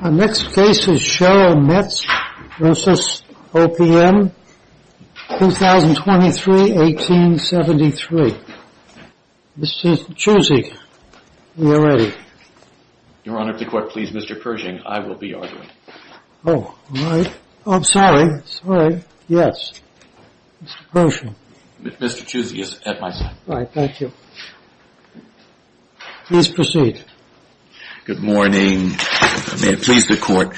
Our next case is Cheryl Metz v. OPM, 2023-1873. Mr. Chusey, are you ready? Your Honor, if the Court pleases Mr. Pershing, I will be arguing. Oh, all right. Oh, I'm sorry. Sorry. Yes. Mr. Pershing. Mr. Chusey is at my side. All right. Thank you. Please proceed. Good morning. May it please the Court.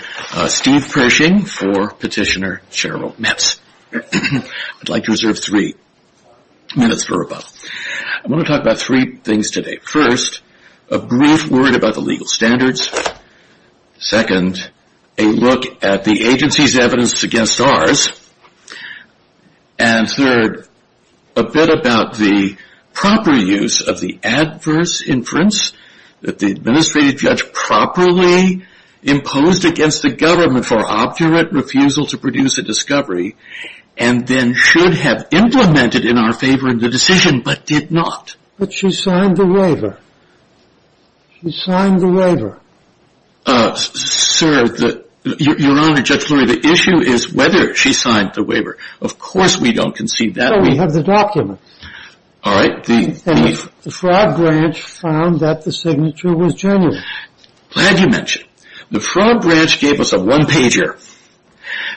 Steve Pershing for Petitioner Cheryl Metz. I'd like to reserve three minutes for rebuttal. I want to talk about three things today. First, a brief word about the legal standards. Second, a look at the agency's evidence against ours. And third, a bit about the proper use of the adverse inference that the administrative judge properly imposed against the government for obdurate refusal to produce a discovery and then should have implemented in our favor in the decision, but did not. But she signed the waiver. She signed the waiver. Sir, Your Honor, Judge Lurie, the issue is whether she signed the waiver. Of course, we don't conceive that. We have the document. All right. The Fraud Branch found that the signature was genuine. Glad you mentioned. The Fraud Branch gave us a one pager.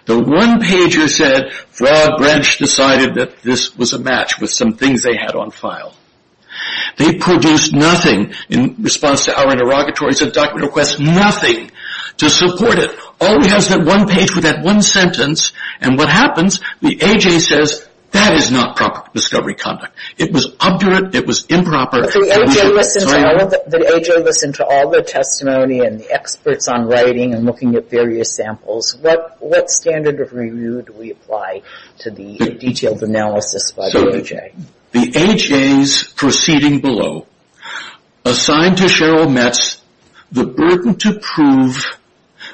The one pager said Fraud Branch decided that this was a match with some things they had on file. They produced nothing in response to our interrogatories and document requests, nothing to support it. All we have is that one page with that one sentence. And what happens, the A.J. says, that is not proper discovery conduct. It was obdurate. It was improper. But the A.J. listened to all the testimony and the experts on writing and looking at various samples. What standard of review do we apply to the detailed analysis by the A.J.? The A.J.'s proceeding below, assigned to Cheryl Metz, the burden to prove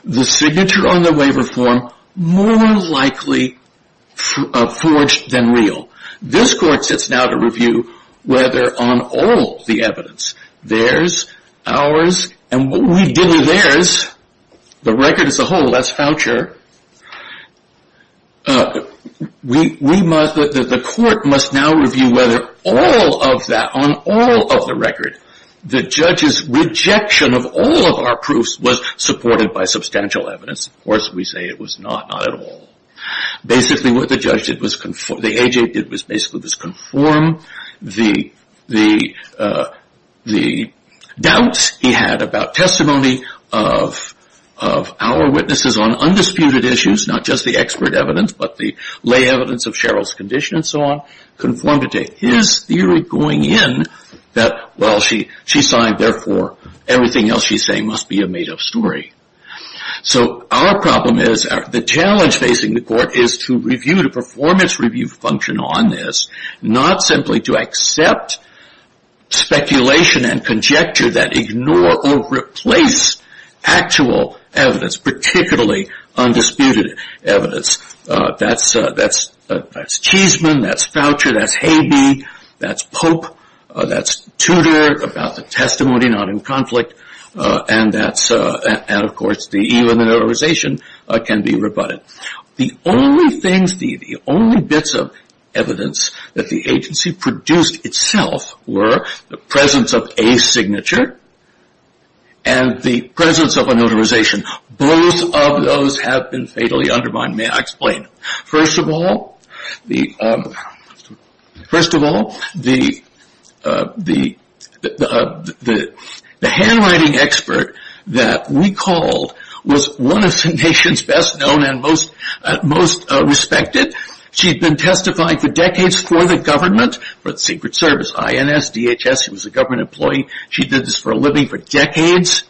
the signature on the waiver form more likely forged than real. This court sits now to review whether on all the evidence, theirs, ours, and what we did with theirs, the record as a whole, that's voucher. The court must now review whether all of that, on all of the record, the judge's rejection of all of our proofs was supported by substantial evidence. Of course, we say it was not, not at all. Basically, what the judge did was conform, the A.J. did was basically just conform the doubts he had about testimony of our witnesses on undisputed issues, not just the expert evidence, but the lay evidence of Cheryl's condition and so on, conformed to his theory going in that, well, she signed, therefore, everything else she's saying must be a made-up story. So our problem is, the challenge facing the court is to review, to perform its review function on this, not simply to accept speculation and conjecture that ignore or replace actual evidence, particularly undisputed evidence. That's, that's, that's Cheeseman, that's Foucher, that's Habe, that's Pope, that's Tudor about the testimony not in conflict, and that's, and of course, the E.U. and the Notarization can be rebutted. The only things, the only bits of evidence that the agency produced itself were the presence of a signature and the presence of a notarization. Both of those have been fatally undermined. May I explain? First of all, the, first of all, the, the, the, the, the handwriting expert that we called was one of the nation's best known and most, most respected. She'd been testifying for decades for the government, for the Secret Service, INS, DHS, she was a government employee. She did this for a living for decades.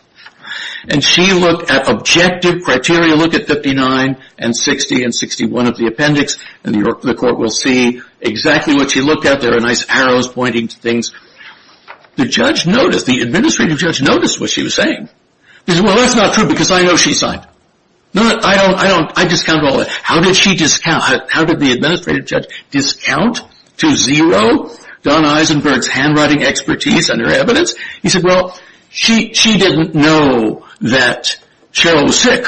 And she looked at objective criteria, look at 59 and 60 and 61 of the appendix, and the court will see exactly what she looked at. There are nice arrows pointing to things. The judge noticed, the administrative judge noticed what she was saying. He said, well, that's not true because I know she signed. No, I don't, I don't, I discount all that. How did she discount, how did the administrative judge discount to zero Don Eisenberg's handwriting expertise and her evidence? He said, well, she, she didn't know that Cheryl was sick.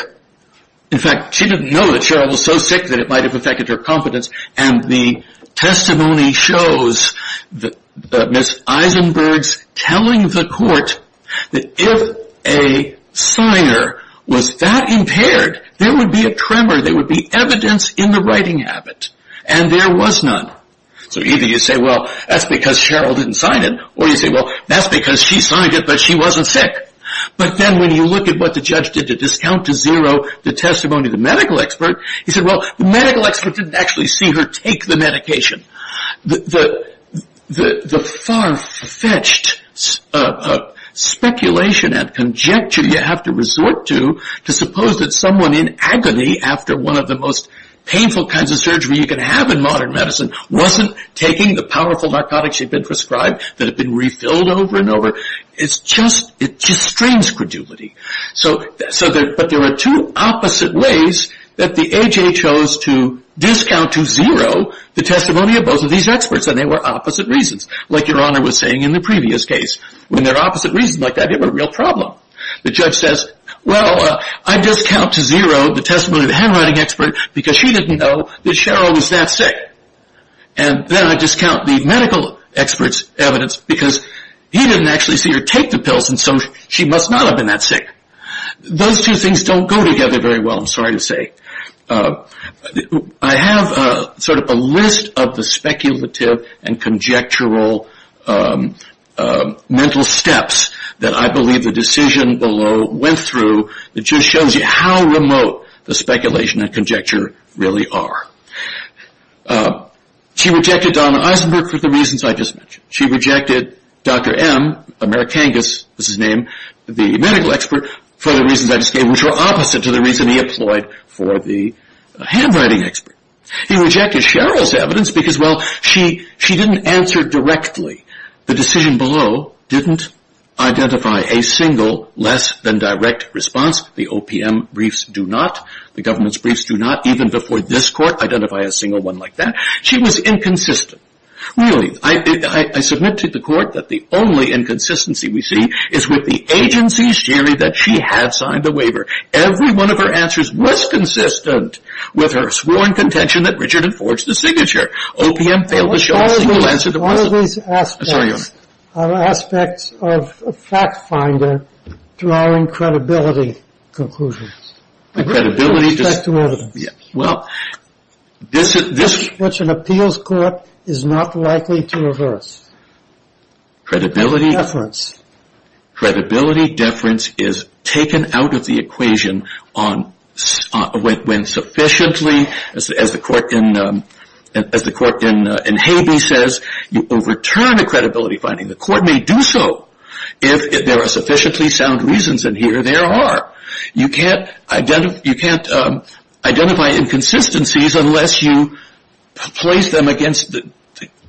In fact, she didn't know that Cheryl was so sick that it might have affected her competence. And the testimony shows that Ms. Eisenberg's telling the court that if a signer was that impaired, there would be a tremor. There would be evidence in the writing habit. And there was none. So either you say, well, that's because Cheryl didn't sign it, or you say, well, that's because she signed it, but she wasn't sick. But then when you look at what the judge did to discount to zero the testimony of the medical expert, he said, well, the medical expert didn't actually see her take the medication. The far-fetched speculation and conjecture you have to resort to, to suppose that someone in agony after one of the most painful kinds of surgery you can have in modern medicine wasn't taking the powerful narcotics she'd been prescribed that had been refilled over and over. It's just, it just strains credulity. So, but there were two opposite ways that the AHA chose to discount to zero the testimony of both of these experts. And they were opposite reasons, like Your Honor was saying in the previous case. When they're opposite reasons like that, you have a real problem. The judge says, well, I discount to zero the testimony of the handwriting expert because she didn't know that Cheryl was that sick. And then I discount the medical expert's evidence because he didn't actually see her take the pills, and so she must not have been that sick. Those two things don't go together very well, I'm sorry to say. I have sort of a list of the speculative and conjectural mental steps that I believe the decision below went through that just shows you how remote the speculation and conjecture really are. She rejected Donna Eisenberg for the reasons I just mentioned. She rejected Dr. M, Americangus was his name, the medical expert, for the reasons I just gave, which were opposite to the reason he employed for the handwriting expert. He rejected Cheryl's evidence because, well, she didn't answer directly. The decision below didn't identify a single less than direct response. The OPM briefs do not. The government's briefs do not, even before this court, identify a single one like that. She was inconsistent. Really, I submit to the court that the only inconsistency we see is with the agency's theory that she had signed a waiver. Every one of her answers was consistent with her sworn contention that Richard had forged the signature. OPM failed to show a single answer to all of these aspects of fact finder drawing credibility conclusions. The credibility. Well, this is what an appeals court is not likely to reverse. Credibility, deference, credibility, deference is taken out of the equation on when sufficiently, as the court in Habeas says, you overturn the credibility finding. The court may do so if there are sufficiently sound reasons in here. There are. You can't identify inconsistencies unless you place them against the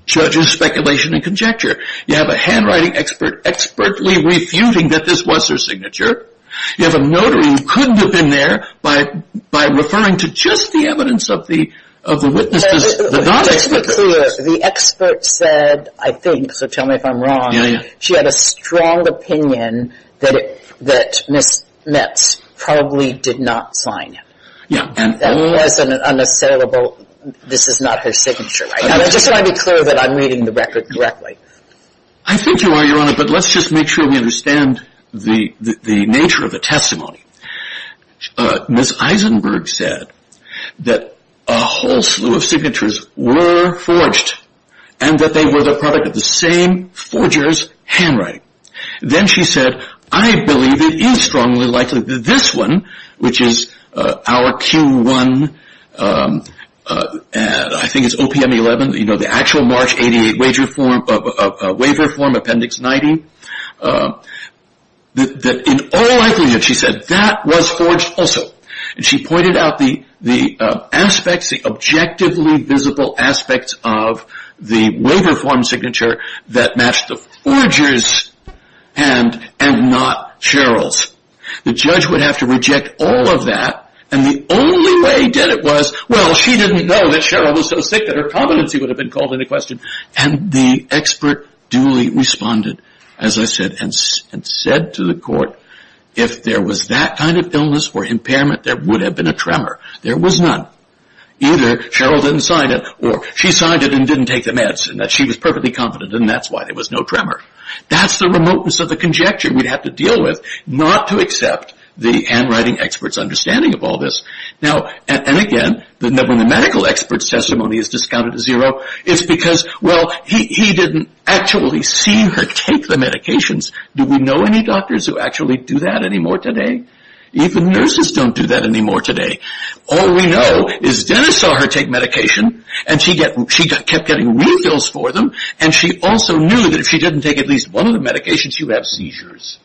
judge's speculation and conjecture. You have a handwriting expert expertly refuting that this was her signature. You have a notary who couldn't have been there by referring to just the evidence of the witnesses. Just to be clear, the expert said, I think, so tell me if I'm wrong, she had a strong opinion that Ms. Metz probably did not sign it. Yeah. That was an unassailable, this is not her signature. I just want to be clear that I'm reading the record correctly. I think you are, Your Honor, but let's just make sure we understand the nature of the testimony. Ms. Eisenberg said that a whole slew of signatures were forged and that they were the product of the same forger's handwriting. Then she said, I believe it is strongly likely that this one, which is our Q1, I think it's OPM 11, the actual March 88 waiver form, Appendix 90, that in all likelihood, she said, that was forged also. She pointed out the aspects, the objectively visible aspects of the waiver form signature that matched the forger's and not Cheryl's. The judge would have to reject all of that and the only way he did it was, well, she didn't know that Cheryl was so sick that her competency would have been called into question. The expert duly responded, as I said, and said to the court, if there was that kind of illness or impairment, there would have been a tremor. There was none. Either Cheryl didn't sign it or she signed it and didn't take the meds and that she was perfectly confident and that's why there was no tremor. That's the remoteness of the conjecture we'd have to deal with, not to accept the handwriting expert's understanding of all this. Now, and again, the medical expert's testimony is discounted to zero. It's because, well, he didn't actually see her take the medications. Do we know any doctors who actually do that anymore today? Even nurses don't do that anymore today. All we know is Dennis saw her take medication and she kept getting refills for them and she also knew that if she didn't take at least one of the medications, she would have seizures.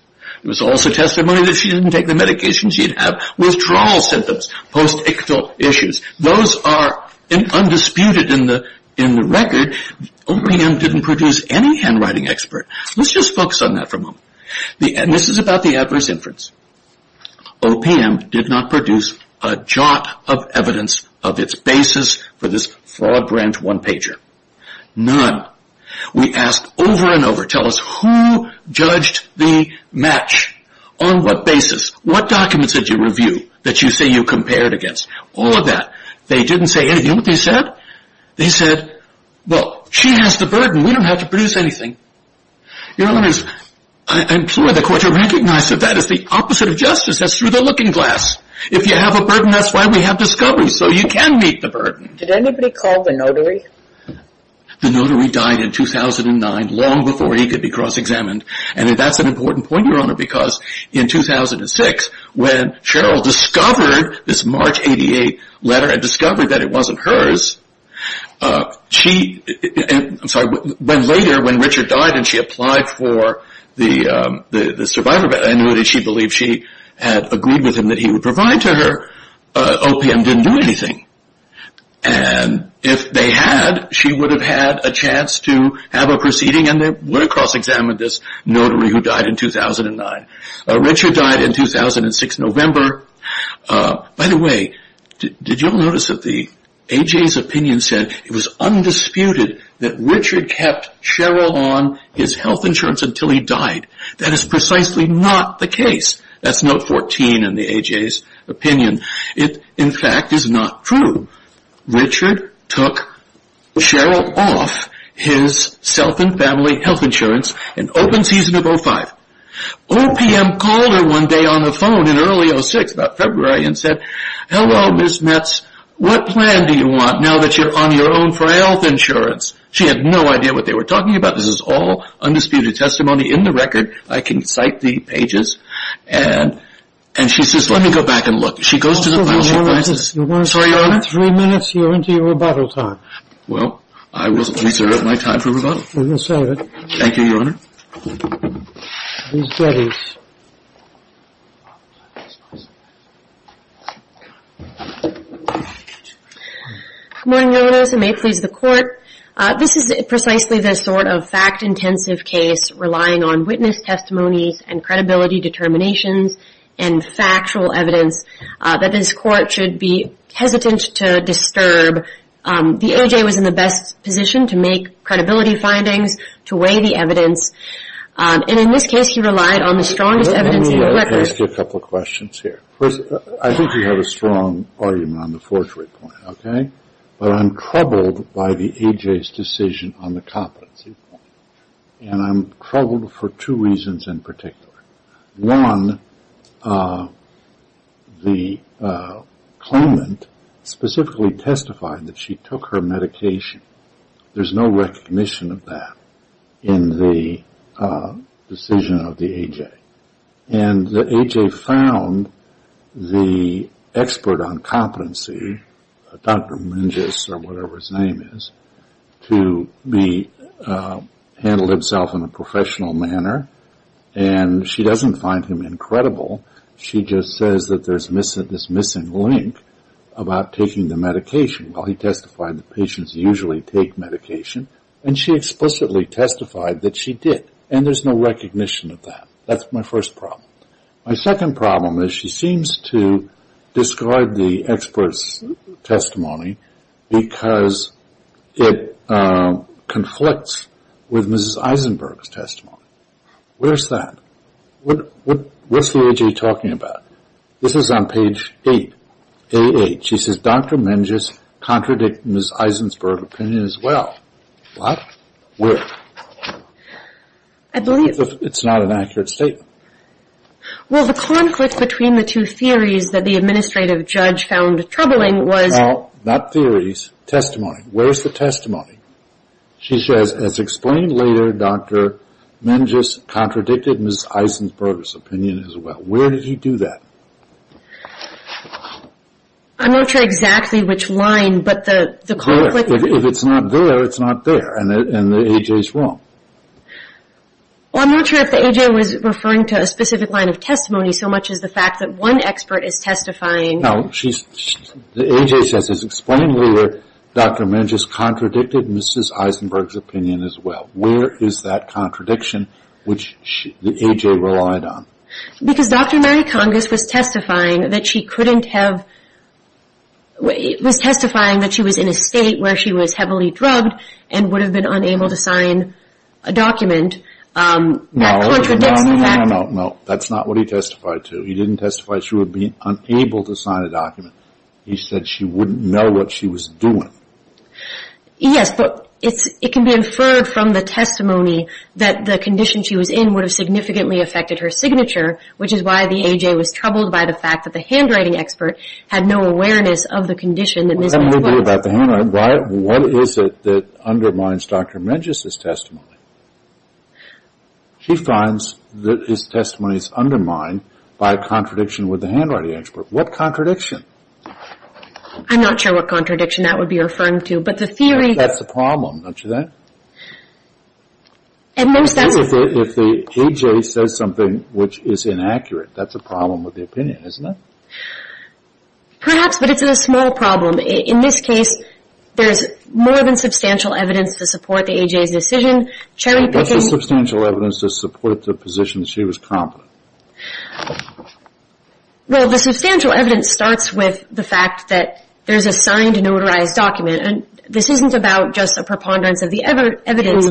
It was also testimony that she didn't take the medications. She'd have withdrawal symptoms, post-ictal issues. Those are undisputed in the record. OPM didn't produce any handwriting expert. Let's just focus on that for a moment. This is about the adverse inference. OPM did not produce a jot of evidence of its basis for this fraud grant one-pager. None. We asked over and over, tell us who judged the match, on what basis, what documents did you review that you say you compared against, all of that. They didn't say anything. You know what they said? They said, well, she has the burden. We don't have to produce anything. Your Honor, I'm sure the court will recognize that that is the opposite of justice. That's through the looking glass. If you have a burden, that's why we have discovery, so you can meet the burden. Did anybody call the notary? The notary died in 2009, long before he could be cross-examined. That's an important point, Your Honor, because in 2006, when Cheryl discovered this March 88 letter, and discovered that it wasn't hers, she, I'm sorry, when later, when Richard died and she applied for the survivor, I know that she believed she had agreed with him that he would provide to her, OPM didn't do anything. And if they had, she would have had a chance to have a proceeding, and they would have cross-examined this notary who died in 2009. Richard died in 2006, November. By the way, did you notice that the A.J.'s opinion said it was undisputed that Richard kept Cheryl on his health insurance until he died. That is precisely not the case. That's note 14 in the A.J.'s opinion. It, in fact, is not true. Richard took Cheryl off his self and family health insurance in open season of 05. OPM called her one day on the phone in early 06, about February, and said, hello, Ms. Metz, what plan do you want now that you're on your own for health insurance? She had no idea what they were talking about. This is all undisputed testimony in the record. I can cite the pages. And she says, let me go back and look. She goes to the file, she finds it. Sorry, Your Honor. You're three minutes, you're into your rebuttal time. Well, I will reserve my time for rebuttal. You can serve it. Thank you, Your Honor. Ms. Jettis. Good morning, Your Honors, and may it please the Court. This is precisely the sort of fact-intensive case relying on witness testimonies and credibility determinations and factual evidence that this Court should be hesitant to disturb. The A.J. was in the best position to make credibility findings, to weigh the evidence. And in this case, he relied on the strongest evidence in the record. Let me ask you a couple of questions here. First, I think you have a strong argument on the forgery point, okay? But I'm troubled by the A.J.'s decision on the competency point. And I'm troubled for two reasons in particular. One, the claimant specifically testified that she took her medication. There's no recognition of that in the decision of the A.J. And the A.J. found the expert on competency, Dr. Mingus or whatever his name is, to handle himself in a professional manner. And she doesn't find him incredible. She just says that there's this missing link about taking the medication. Well, he testified that patients usually take medication. And she explicitly testified that she did. And there's no recognition of that. That's my first problem. My second problem is she seems to describe the expert's testimony because it conflicts with Mrs. Eisenberg's testimony. Where's that? What's the A.J. talking about? This is on page 8, A8. She says, Dr. Mingus contradicted Mrs. Eisenberg's opinion as well. What? Where? I believe... It's not an accurate statement. Well, the conflict between the two theories that the administrative judge found troubling was... Well, not theories, testimony. Where's the testimony? She says, as explained later, Dr. Mingus contradicted Mrs. Eisenberg's opinion as well. Where did he do that? I'm not sure exactly which line, but the conflict... If it's not there, it's not there. And the A.J.'s wrong. Well, I'm not sure if the A.J. was referring to a specific line of testimony so much as the fact that one expert is testifying... No, she's... The A.J. says, as explained later, Dr. Mingus contradicted Mrs. Eisenberg's opinion as well. Where is that contradiction which the A.J. relied on? Because Dr. Mary Congess was testifying that she couldn't have... It was testifying that she was in a state where she was heavily drugged and would have been unable to sign a document that contradicted that... No, no, no, no, no, no. That's not what he testified to. He didn't testify that she would be unable to sign a document. He said she wouldn't know what she was doing. Yes, but it can be inferred from the testimony that the condition she was in would have significantly affected her signature, which is why the A.J. was troubled by the fact that the handwriting expert had no awareness of the condition that Mrs. Eisenberg... What can we do about the handwriting? What is it that undermines Dr. Mingus's testimony? She finds that his testimony is undermined by a contradiction with the handwriting expert. What contradiction? I'm not sure what contradiction that would be referring to, but the theory... That's the problem, don't you think? At most, that's... If the A.J. says something which is inaccurate, that's a problem with the opinion, isn't it? Perhaps, but it's a small problem. In this case, there's more than substantial evidence to support the A.J.'s decision. Chairman Pickens... What's the substantial evidence to support the position that she was competent? Well, the substantial evidence starts with the fact that there's a signed, notarized document. And this isn't about just a preponderance of the evidence...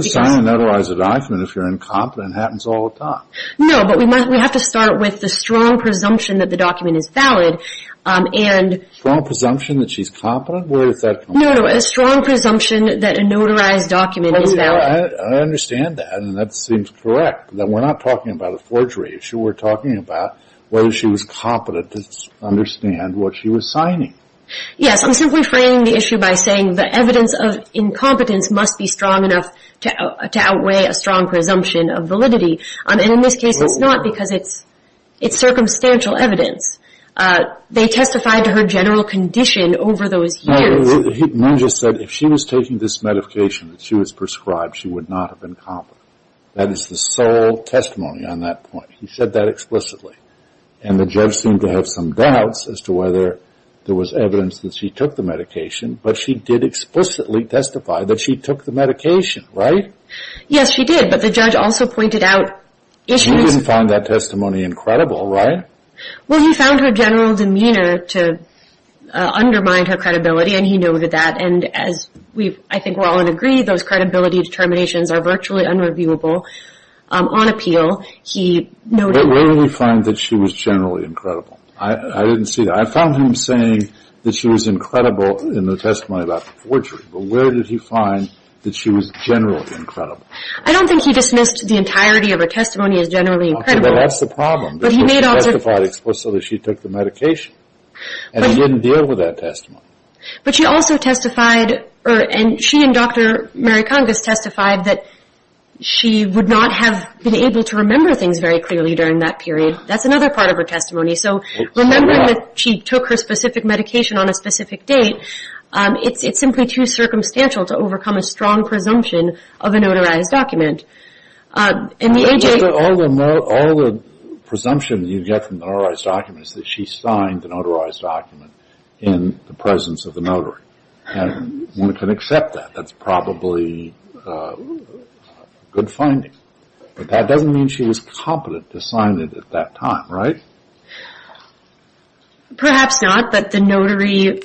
You can't sign a notarized document if you're incompetent. It happens all the time. No, but we have to start with the strong presumption that the document is valid, and... Strong presumption that she's competent? Where does that come from? No, no, a strong presumption that a notarized document is valid. I understand that, and that seems correct. We're not talking about a forgery issue. We're talking about whether she was competent to understand what she was signing. Yes, I'm simply framing the issue by saying the evidence of incompetence must be strong enough to outweigh a strong presumption of validity. And in this case, it's not because it's circumstantial evidence. They testified to her general condition over those years. No, he just said if she was taking this medication that she was prescribed, she would not have been competent. That is the sole testimony on that point. He said that explicitly. And the judge seemed to have some doubts as to whether there was evidence that she took the medication, but she did explicitly testify that she took the medication, right? Yes, she did, but the judge also pointed out issues... He didn't find that testimony incredible, right? Well, he found her general demeanor to undermine her credibility, and he noted that. And as I think we're all in agree, those credibility determinations are virtually unreviewable on appeal. But where did he find that she was generally incredible? I didn't see that. I found him saying that she was incredible in the testimony about the forgery, but where did he find that she was generally incredible? I don't think he dismissed the entirety of her testimony as generally incredible. Okay, well, that's the problem. But he made also... She testified explicitly that she took the medication, and he didn't deal with that testimony. But she also testified, and she and Dr. Mary Congress testified, that she would not have been able to remember things very clearly during that period. Okay, that's another part of her testimony. So remembering that she took her specific medication on a specific date, it's simply too circumstantial to overcome a strong presumption of a notarized document. All the presumption you get from the notarized document is that she signed the notarized document in the presence of the notary, and one can accept that. That's probably a good finding. But that doesn't mean she was competent to sign it at that time, right? Perhaps not, but the notary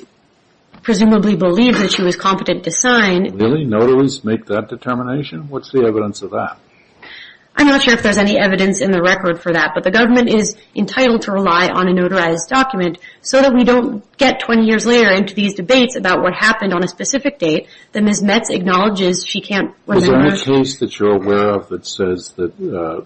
presumably believed that she was competent to sign. Really? Notaries make that determination? What's the evidence of that? I'm not sure if there's any evidence in the record for that, but the government is entitled to rely on a notarized document, so that we don't get 20 years later into these debates about what happened on a specific date that Ms. Metz acknowledges she can't remember. Is there any case that you're aware of that says that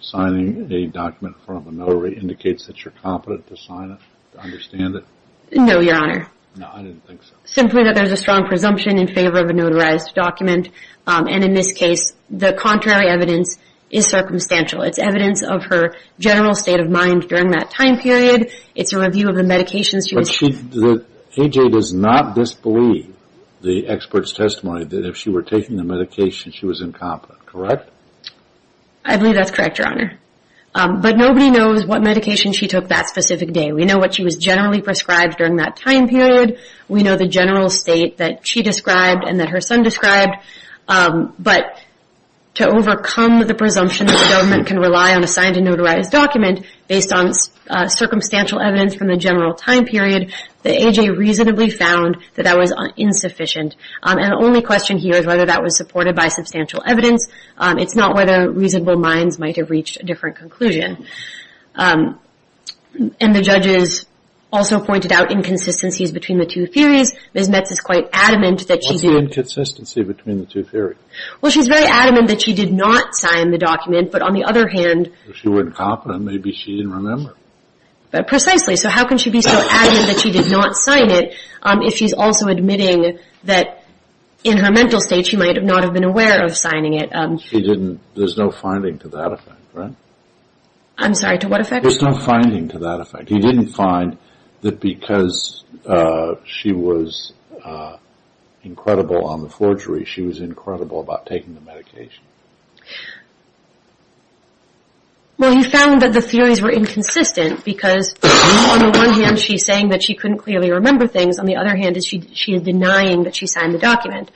signing a document from a notary indicates that you're competent to sign it, to understand it? No, Your Honor. No, I didn't think so. Simply that there's a strong presumption in favor of a notarized document, and in this case the contrary evidence is circumstantial. It's evidence of her general state of mind during that time period. It's a review of the medications she was taking. So you believe that A.J. does not disbelieve the expert's testimony that if she were taking the medication she was incompetent, correct? I believe that's correct, Your Honor. But nobody knows what medication she took that specific day. We know what she was generally prescribed during that time period. We know the general state that she described and that her son described. But to overcome the presumption that the government can rely on a signed and notarized document based on circumstantial evidence from the general time period, that A.J. reasonably found that that was insufficient. And the only question here is whether that was supported by substantial evidence. It's not whether reasonable minds might have reached a different conclusion. And the judges also pointed out inconsistencies between the two theories. Ms. Metz is quite adamant that she did. What's the inconsistency between the two theories? Well, she's very adamant that she did not sign the document, but on the other hand. If she were incompetent, maybe she didn't remember. But precisely. So how can she be so adamant that she did not sign it if she's also admitting that in her mental state she might not have been aware of signing it? She didn't. There's no finding to that effect, right? I'm sorry, to what effect? There's no finding to that effect. He didn't find that because she was incredible on the forgery, she was incredible about taking the medication. Well, he found that the theories were inconsistent because, on the one hand, she's saying that she couldn't clearly remember things. On the other hand, she's denying that she signed the document.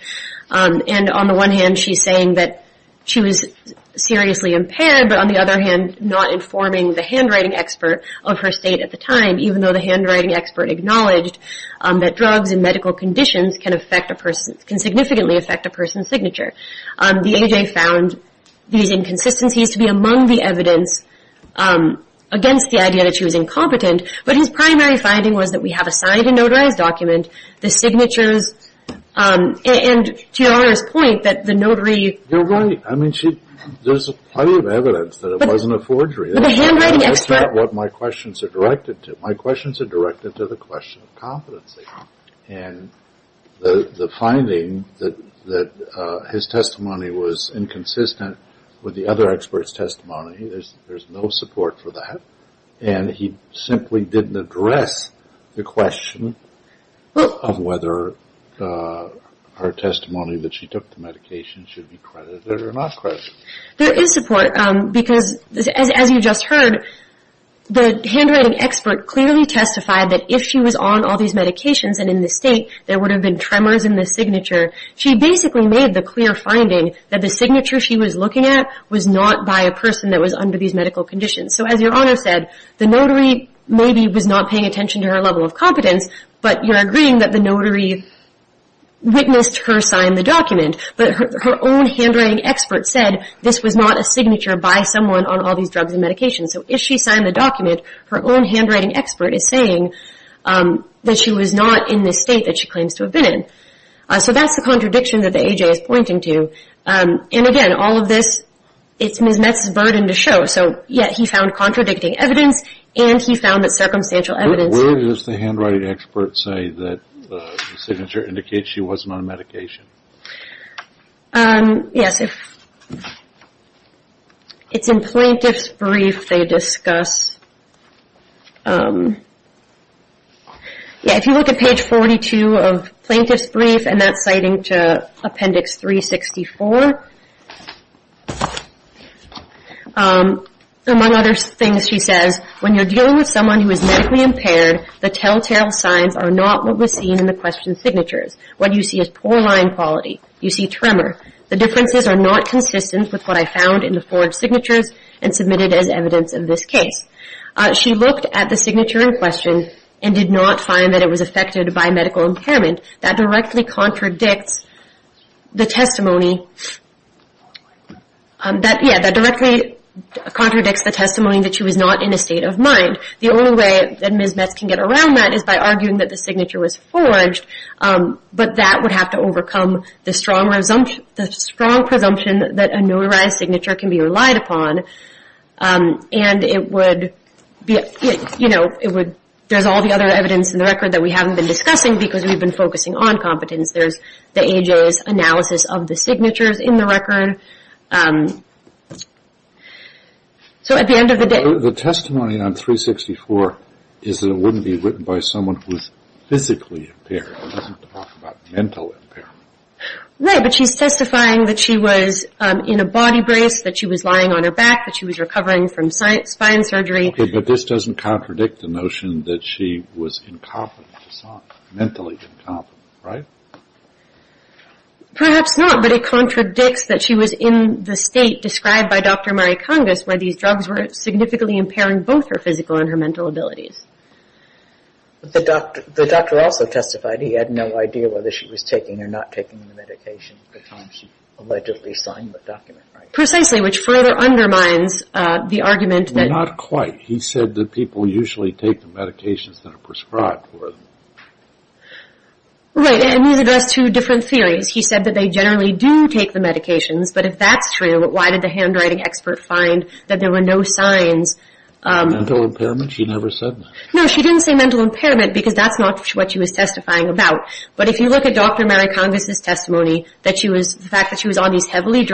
And on the one hand, she's saying that she was seriously impaired, but on the other hand, not informing the handwriting expert of her state at the time, even though the handwriting expert acknowledged that drugs and medical conditions can significantly affect a person's signature. The A.J. found these inconsistencies to be among the evidence against the idea that she was incompetent, but his primary finding was that we have a signed and notarized document, the signatures, and to your Honor's point, that the notary. You're right. I mean, there's plenty of evidence that it wasn't a forgery. But the handwriting expert. That's not what my questions are directed to. My questions are directed to the question of competency. And the finding that his testimony was inconsistent with the other experts' testimony, there's no support for that, and he simply didn't address the question of whether her testimony that she took the medication should be credited or not credited. There is support because, as you just heard, the handwriting expert clearly testified that if she was on all these medications and in the state there would have been tremors in the signature, she basically made the clear finding that the signature she was looking at was not by a person that was under these medical conditions. So as your Honor said, the notary maybe was not paying attention to her level of competence, but you're agreeing that the notary witnessed her sign the document. But her own handwriting expert said this was not a signature by someone on all these drugs and medications. So if she signed the document, her own handwriting expert is saying that she was not in the state that she claims to have been in. So that's the contradiction that the A.J. is pointing to. And, again, all of this, it's Ms. Metz's burden to show. So, yes, he found contradicting evidence, and he found that circumstantial evidence. Where does the handwriting expert say that the signature indicates she wasn't on medication? Yes. It's in Plaintiff's Brief they discuss. If you look at page 42 of Plaintiff's Brief, and that's citing to Appendix 364, among other things she says, when you're dealing with someone who is medically impaired, the telltale signs are not what was seen in the question signatures. What you see is poor line quality. You see tremor. The differences are not consistent with what I found in the forged signatures and submitted as evidence in this case. She looked at the signature in question and did not find that it was affected by medical impairment. That directly contradicts the testimony that she was not in a state of mind. The only way that Ms. Metz can get around that is by arguing that the signature was forged, but that would have to overcome the strong presumption that a notarized signature can be relied upon. And it would be, you know, it would, there's all the other evidence in the record that we haven't been discussing because we've been focusing on competence. There's the AJA's analysis of the signatures in the record. So at the end of the day... The testimony on 364 is that it wouldn't be written by someone who's physically impaired. It doesn't talk about mental impairment. Right, but she's testifying that she was in a body brace, that she was lying on her back, that she was recovering from spine surgery. Okay, but this doesn't contradict the notion that she was incompetent, mentally incompetent, right? Perhaps not, but it contradicts that she was in the state described by Dr. Marie Kongos where these drugs were significantly impairing both her physical and her mental abilities. The doctor also testified he had no idea whether she was taking or not taking the medication at the time she allegedly signed the document, right? Precisely, which further undermines the argument that... Not quite. He said that people usually take the medications that are prescribed for them. Right, and these address two different theories. He said that they generally do take the medications, but if that's true, why did the handwriting expert find that there were no signs... Mental impairment? She never said that. No, she didn't say mental impairment because that's not what she was testifying about. But if you look at Dr. Marie Kongos' testimony, the fact that she was on these heavy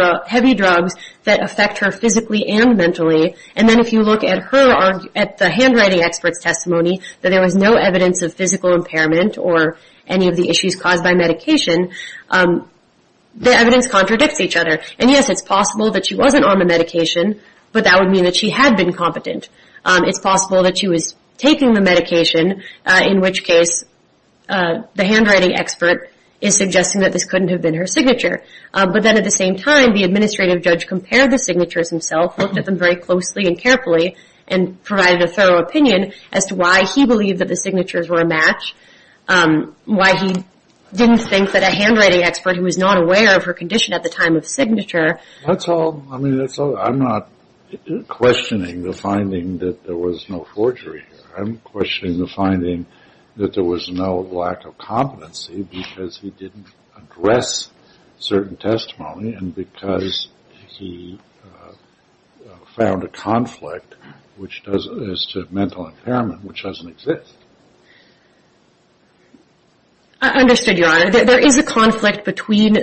drugs that affect her physically and mentally, and then if you look at the handwriting expert's testimony, that there was no evidence of physical impairment or any of the issues caused by medication, the evidence contradicts each other. And yes, it's possible that she wasn't on the medication, but that would mean that she had been competent. It's possible that she was taking the medication, in which case the handwriting expert is suggesting that this couldn't have been her signature. But then at the same time, the administrative judge compared the signatures himself, looked at them very closely and carefully, and provided a thorough opinion as to why he believed that the signatures were a match, why he didn't think that a handwriting expert, who was not aware of her condition at the time of signature... That's all. I'm not questioning the finding that there was no forgery. I'm questioning the finding that there was no lack of competency because he didn't address certain testimony and because he found a conflict as to mental impairment, which doesn't exist. I understood, Your Honor. There is a conflict between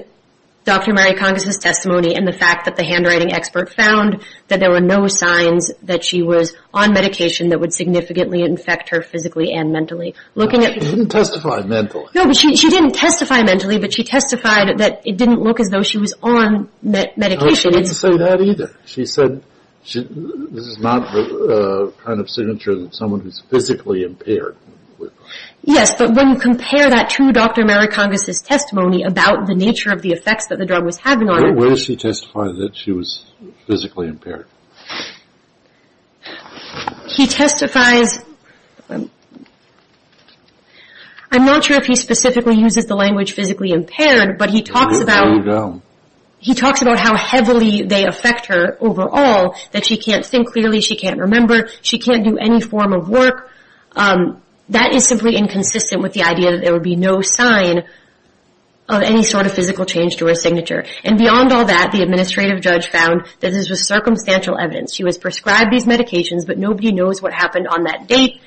Dr. Mary Kongos' testimony and the fact that the handwriting expert found that there were no signs that she was on medication that would significantly infect her physically and mentally. She didn't testify mentally. No, but she didn't testify mentally, but she testified that it didn't look as though she was on medication. She didn't say that either. She said this is not the kind of signature of someone who's physically impaired. Yes, but when you compare that to Dr. Mary Kongos' testimony about the nature of the effects that the drug was having on her... Where does she testify that she was physically impaired? He testifies... I'm not sure if he specifically uses the language physically impaired, but he talks about how heavily they affect her overall, that she can't think clearly, she can't remember, she can't do any form of work. That is simply inconsistent with the idea that there would be no sign of any sort of physical change to her signature. And beyond all that, the administrative judge found that this was circumstantial evidence. She was prescribed these medications, but nobody knows what happened on that date.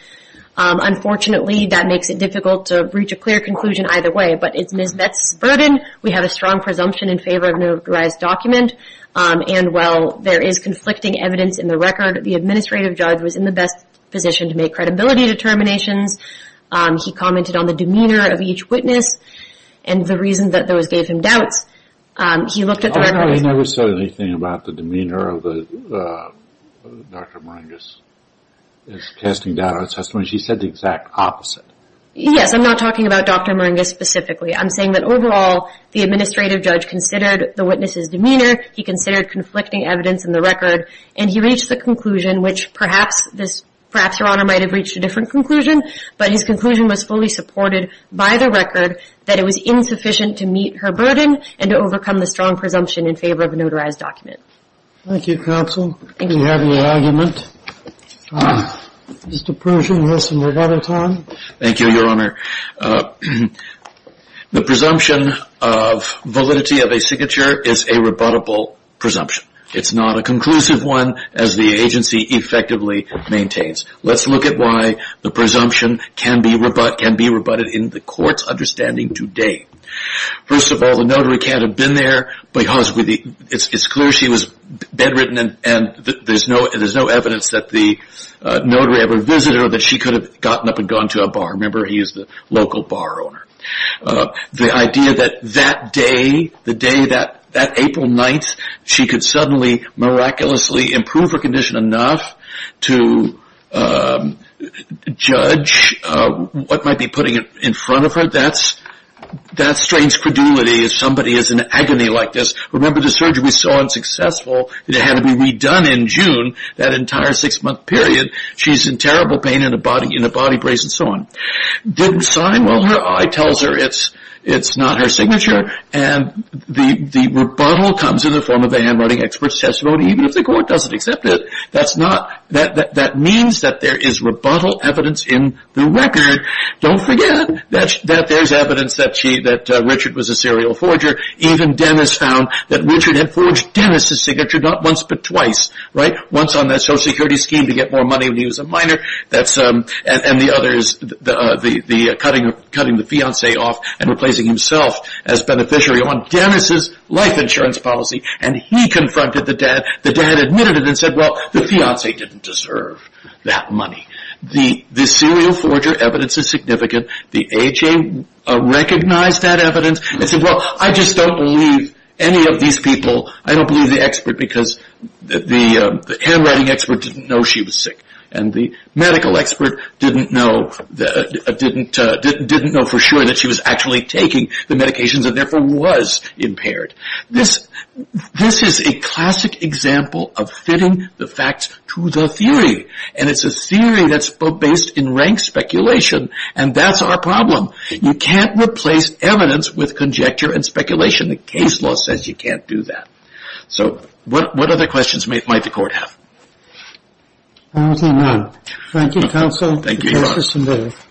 Unfortunately, that makes it difficult to reach a clear conclusion either way, but it's Ms. Metz's burden. We have a strong presumption in favor of an authorized document, and while there is conflicting evidence in the record, the administrative judge was in the best position to make credibility determinations. He commented on the demeanor of each witness and the reason that those gave him doubts. He never said anything about the demeanor of Dr. Moringa's testimony. She said the exact opposite. Yes, I'm not talking about Dr. Moringa specifically. I'm saying that overall, the administrative judge considered the witness's demeanor, he considered conflicting evidence in the record, and he reached the conclusion, which perhaps Your Honor might have reached a different conclusion, but his conclusion was fully supported by the record that it was insufficient to meet her burden and to overcome the strong presumption in favor of a notarized document. Thank you, counsel. Do you have any argument? Mr. Pershing has some rebuttal time. Thank you, Your Honor. The presumption of validity of a signature is a rebuttable presumption. It's not a conclusive one, as the agency effectively maintains. Let's look at why the presumption can be rebutted in the court's understanding today. First of all, the notary can't have been there because it's clear she was bedridden and there's no evidence that the notary ever visited her, that she could have gotten up and gone to a bar. Remember, he is the local bar owner. The idea that that day, the day, that April 9th, she could suddenly, miraculously improve her condition enough to judge what might be putting it in front of her, that's strange credulity if somebody is in agony like this. Remember, the surgery was so unsuccessful that it had to be redone in June, that entire six-month period. She's in terrible pain in the body brace and so on. Didn't sign? Well, her eye tells her it's not her signature, and the rebuttal comes in the form of a handwriting expert's testimony, even if the court doesn't accept it. That means that there is rebuttal evidence in the record. Don't forget that there's evidence that Richard was a serial forger. Even Dennis found that Richard had forged Dennis' signature not once but twice. Once on that Social Security scheme to get more money when he was a minor, and the other is cutting the fiancé off and replacing himself as beneficiary on Dennis' life insurance policy, and he confronted the dad. The dad admitted it and said, well, the fiancé didn't deserve that money. The serial forger evidence is significant. The AHA recognized that evidence and said, well, I just don't believe any of these people. I don't believe the expert because the handwriting expert didn't know she was sick. And the medical expert didn't know for sure that she was actually taking the medications and therefore was impaired. This is a classic example of fitting the facts to the theory, and it's a theory that's based in rank speculation, and that's our problem. You can't replace evidence with conjecture and speculation. The case law says you can't do that. So what other questions might the court have? That's all I have. Thank you, counsel. Thank you.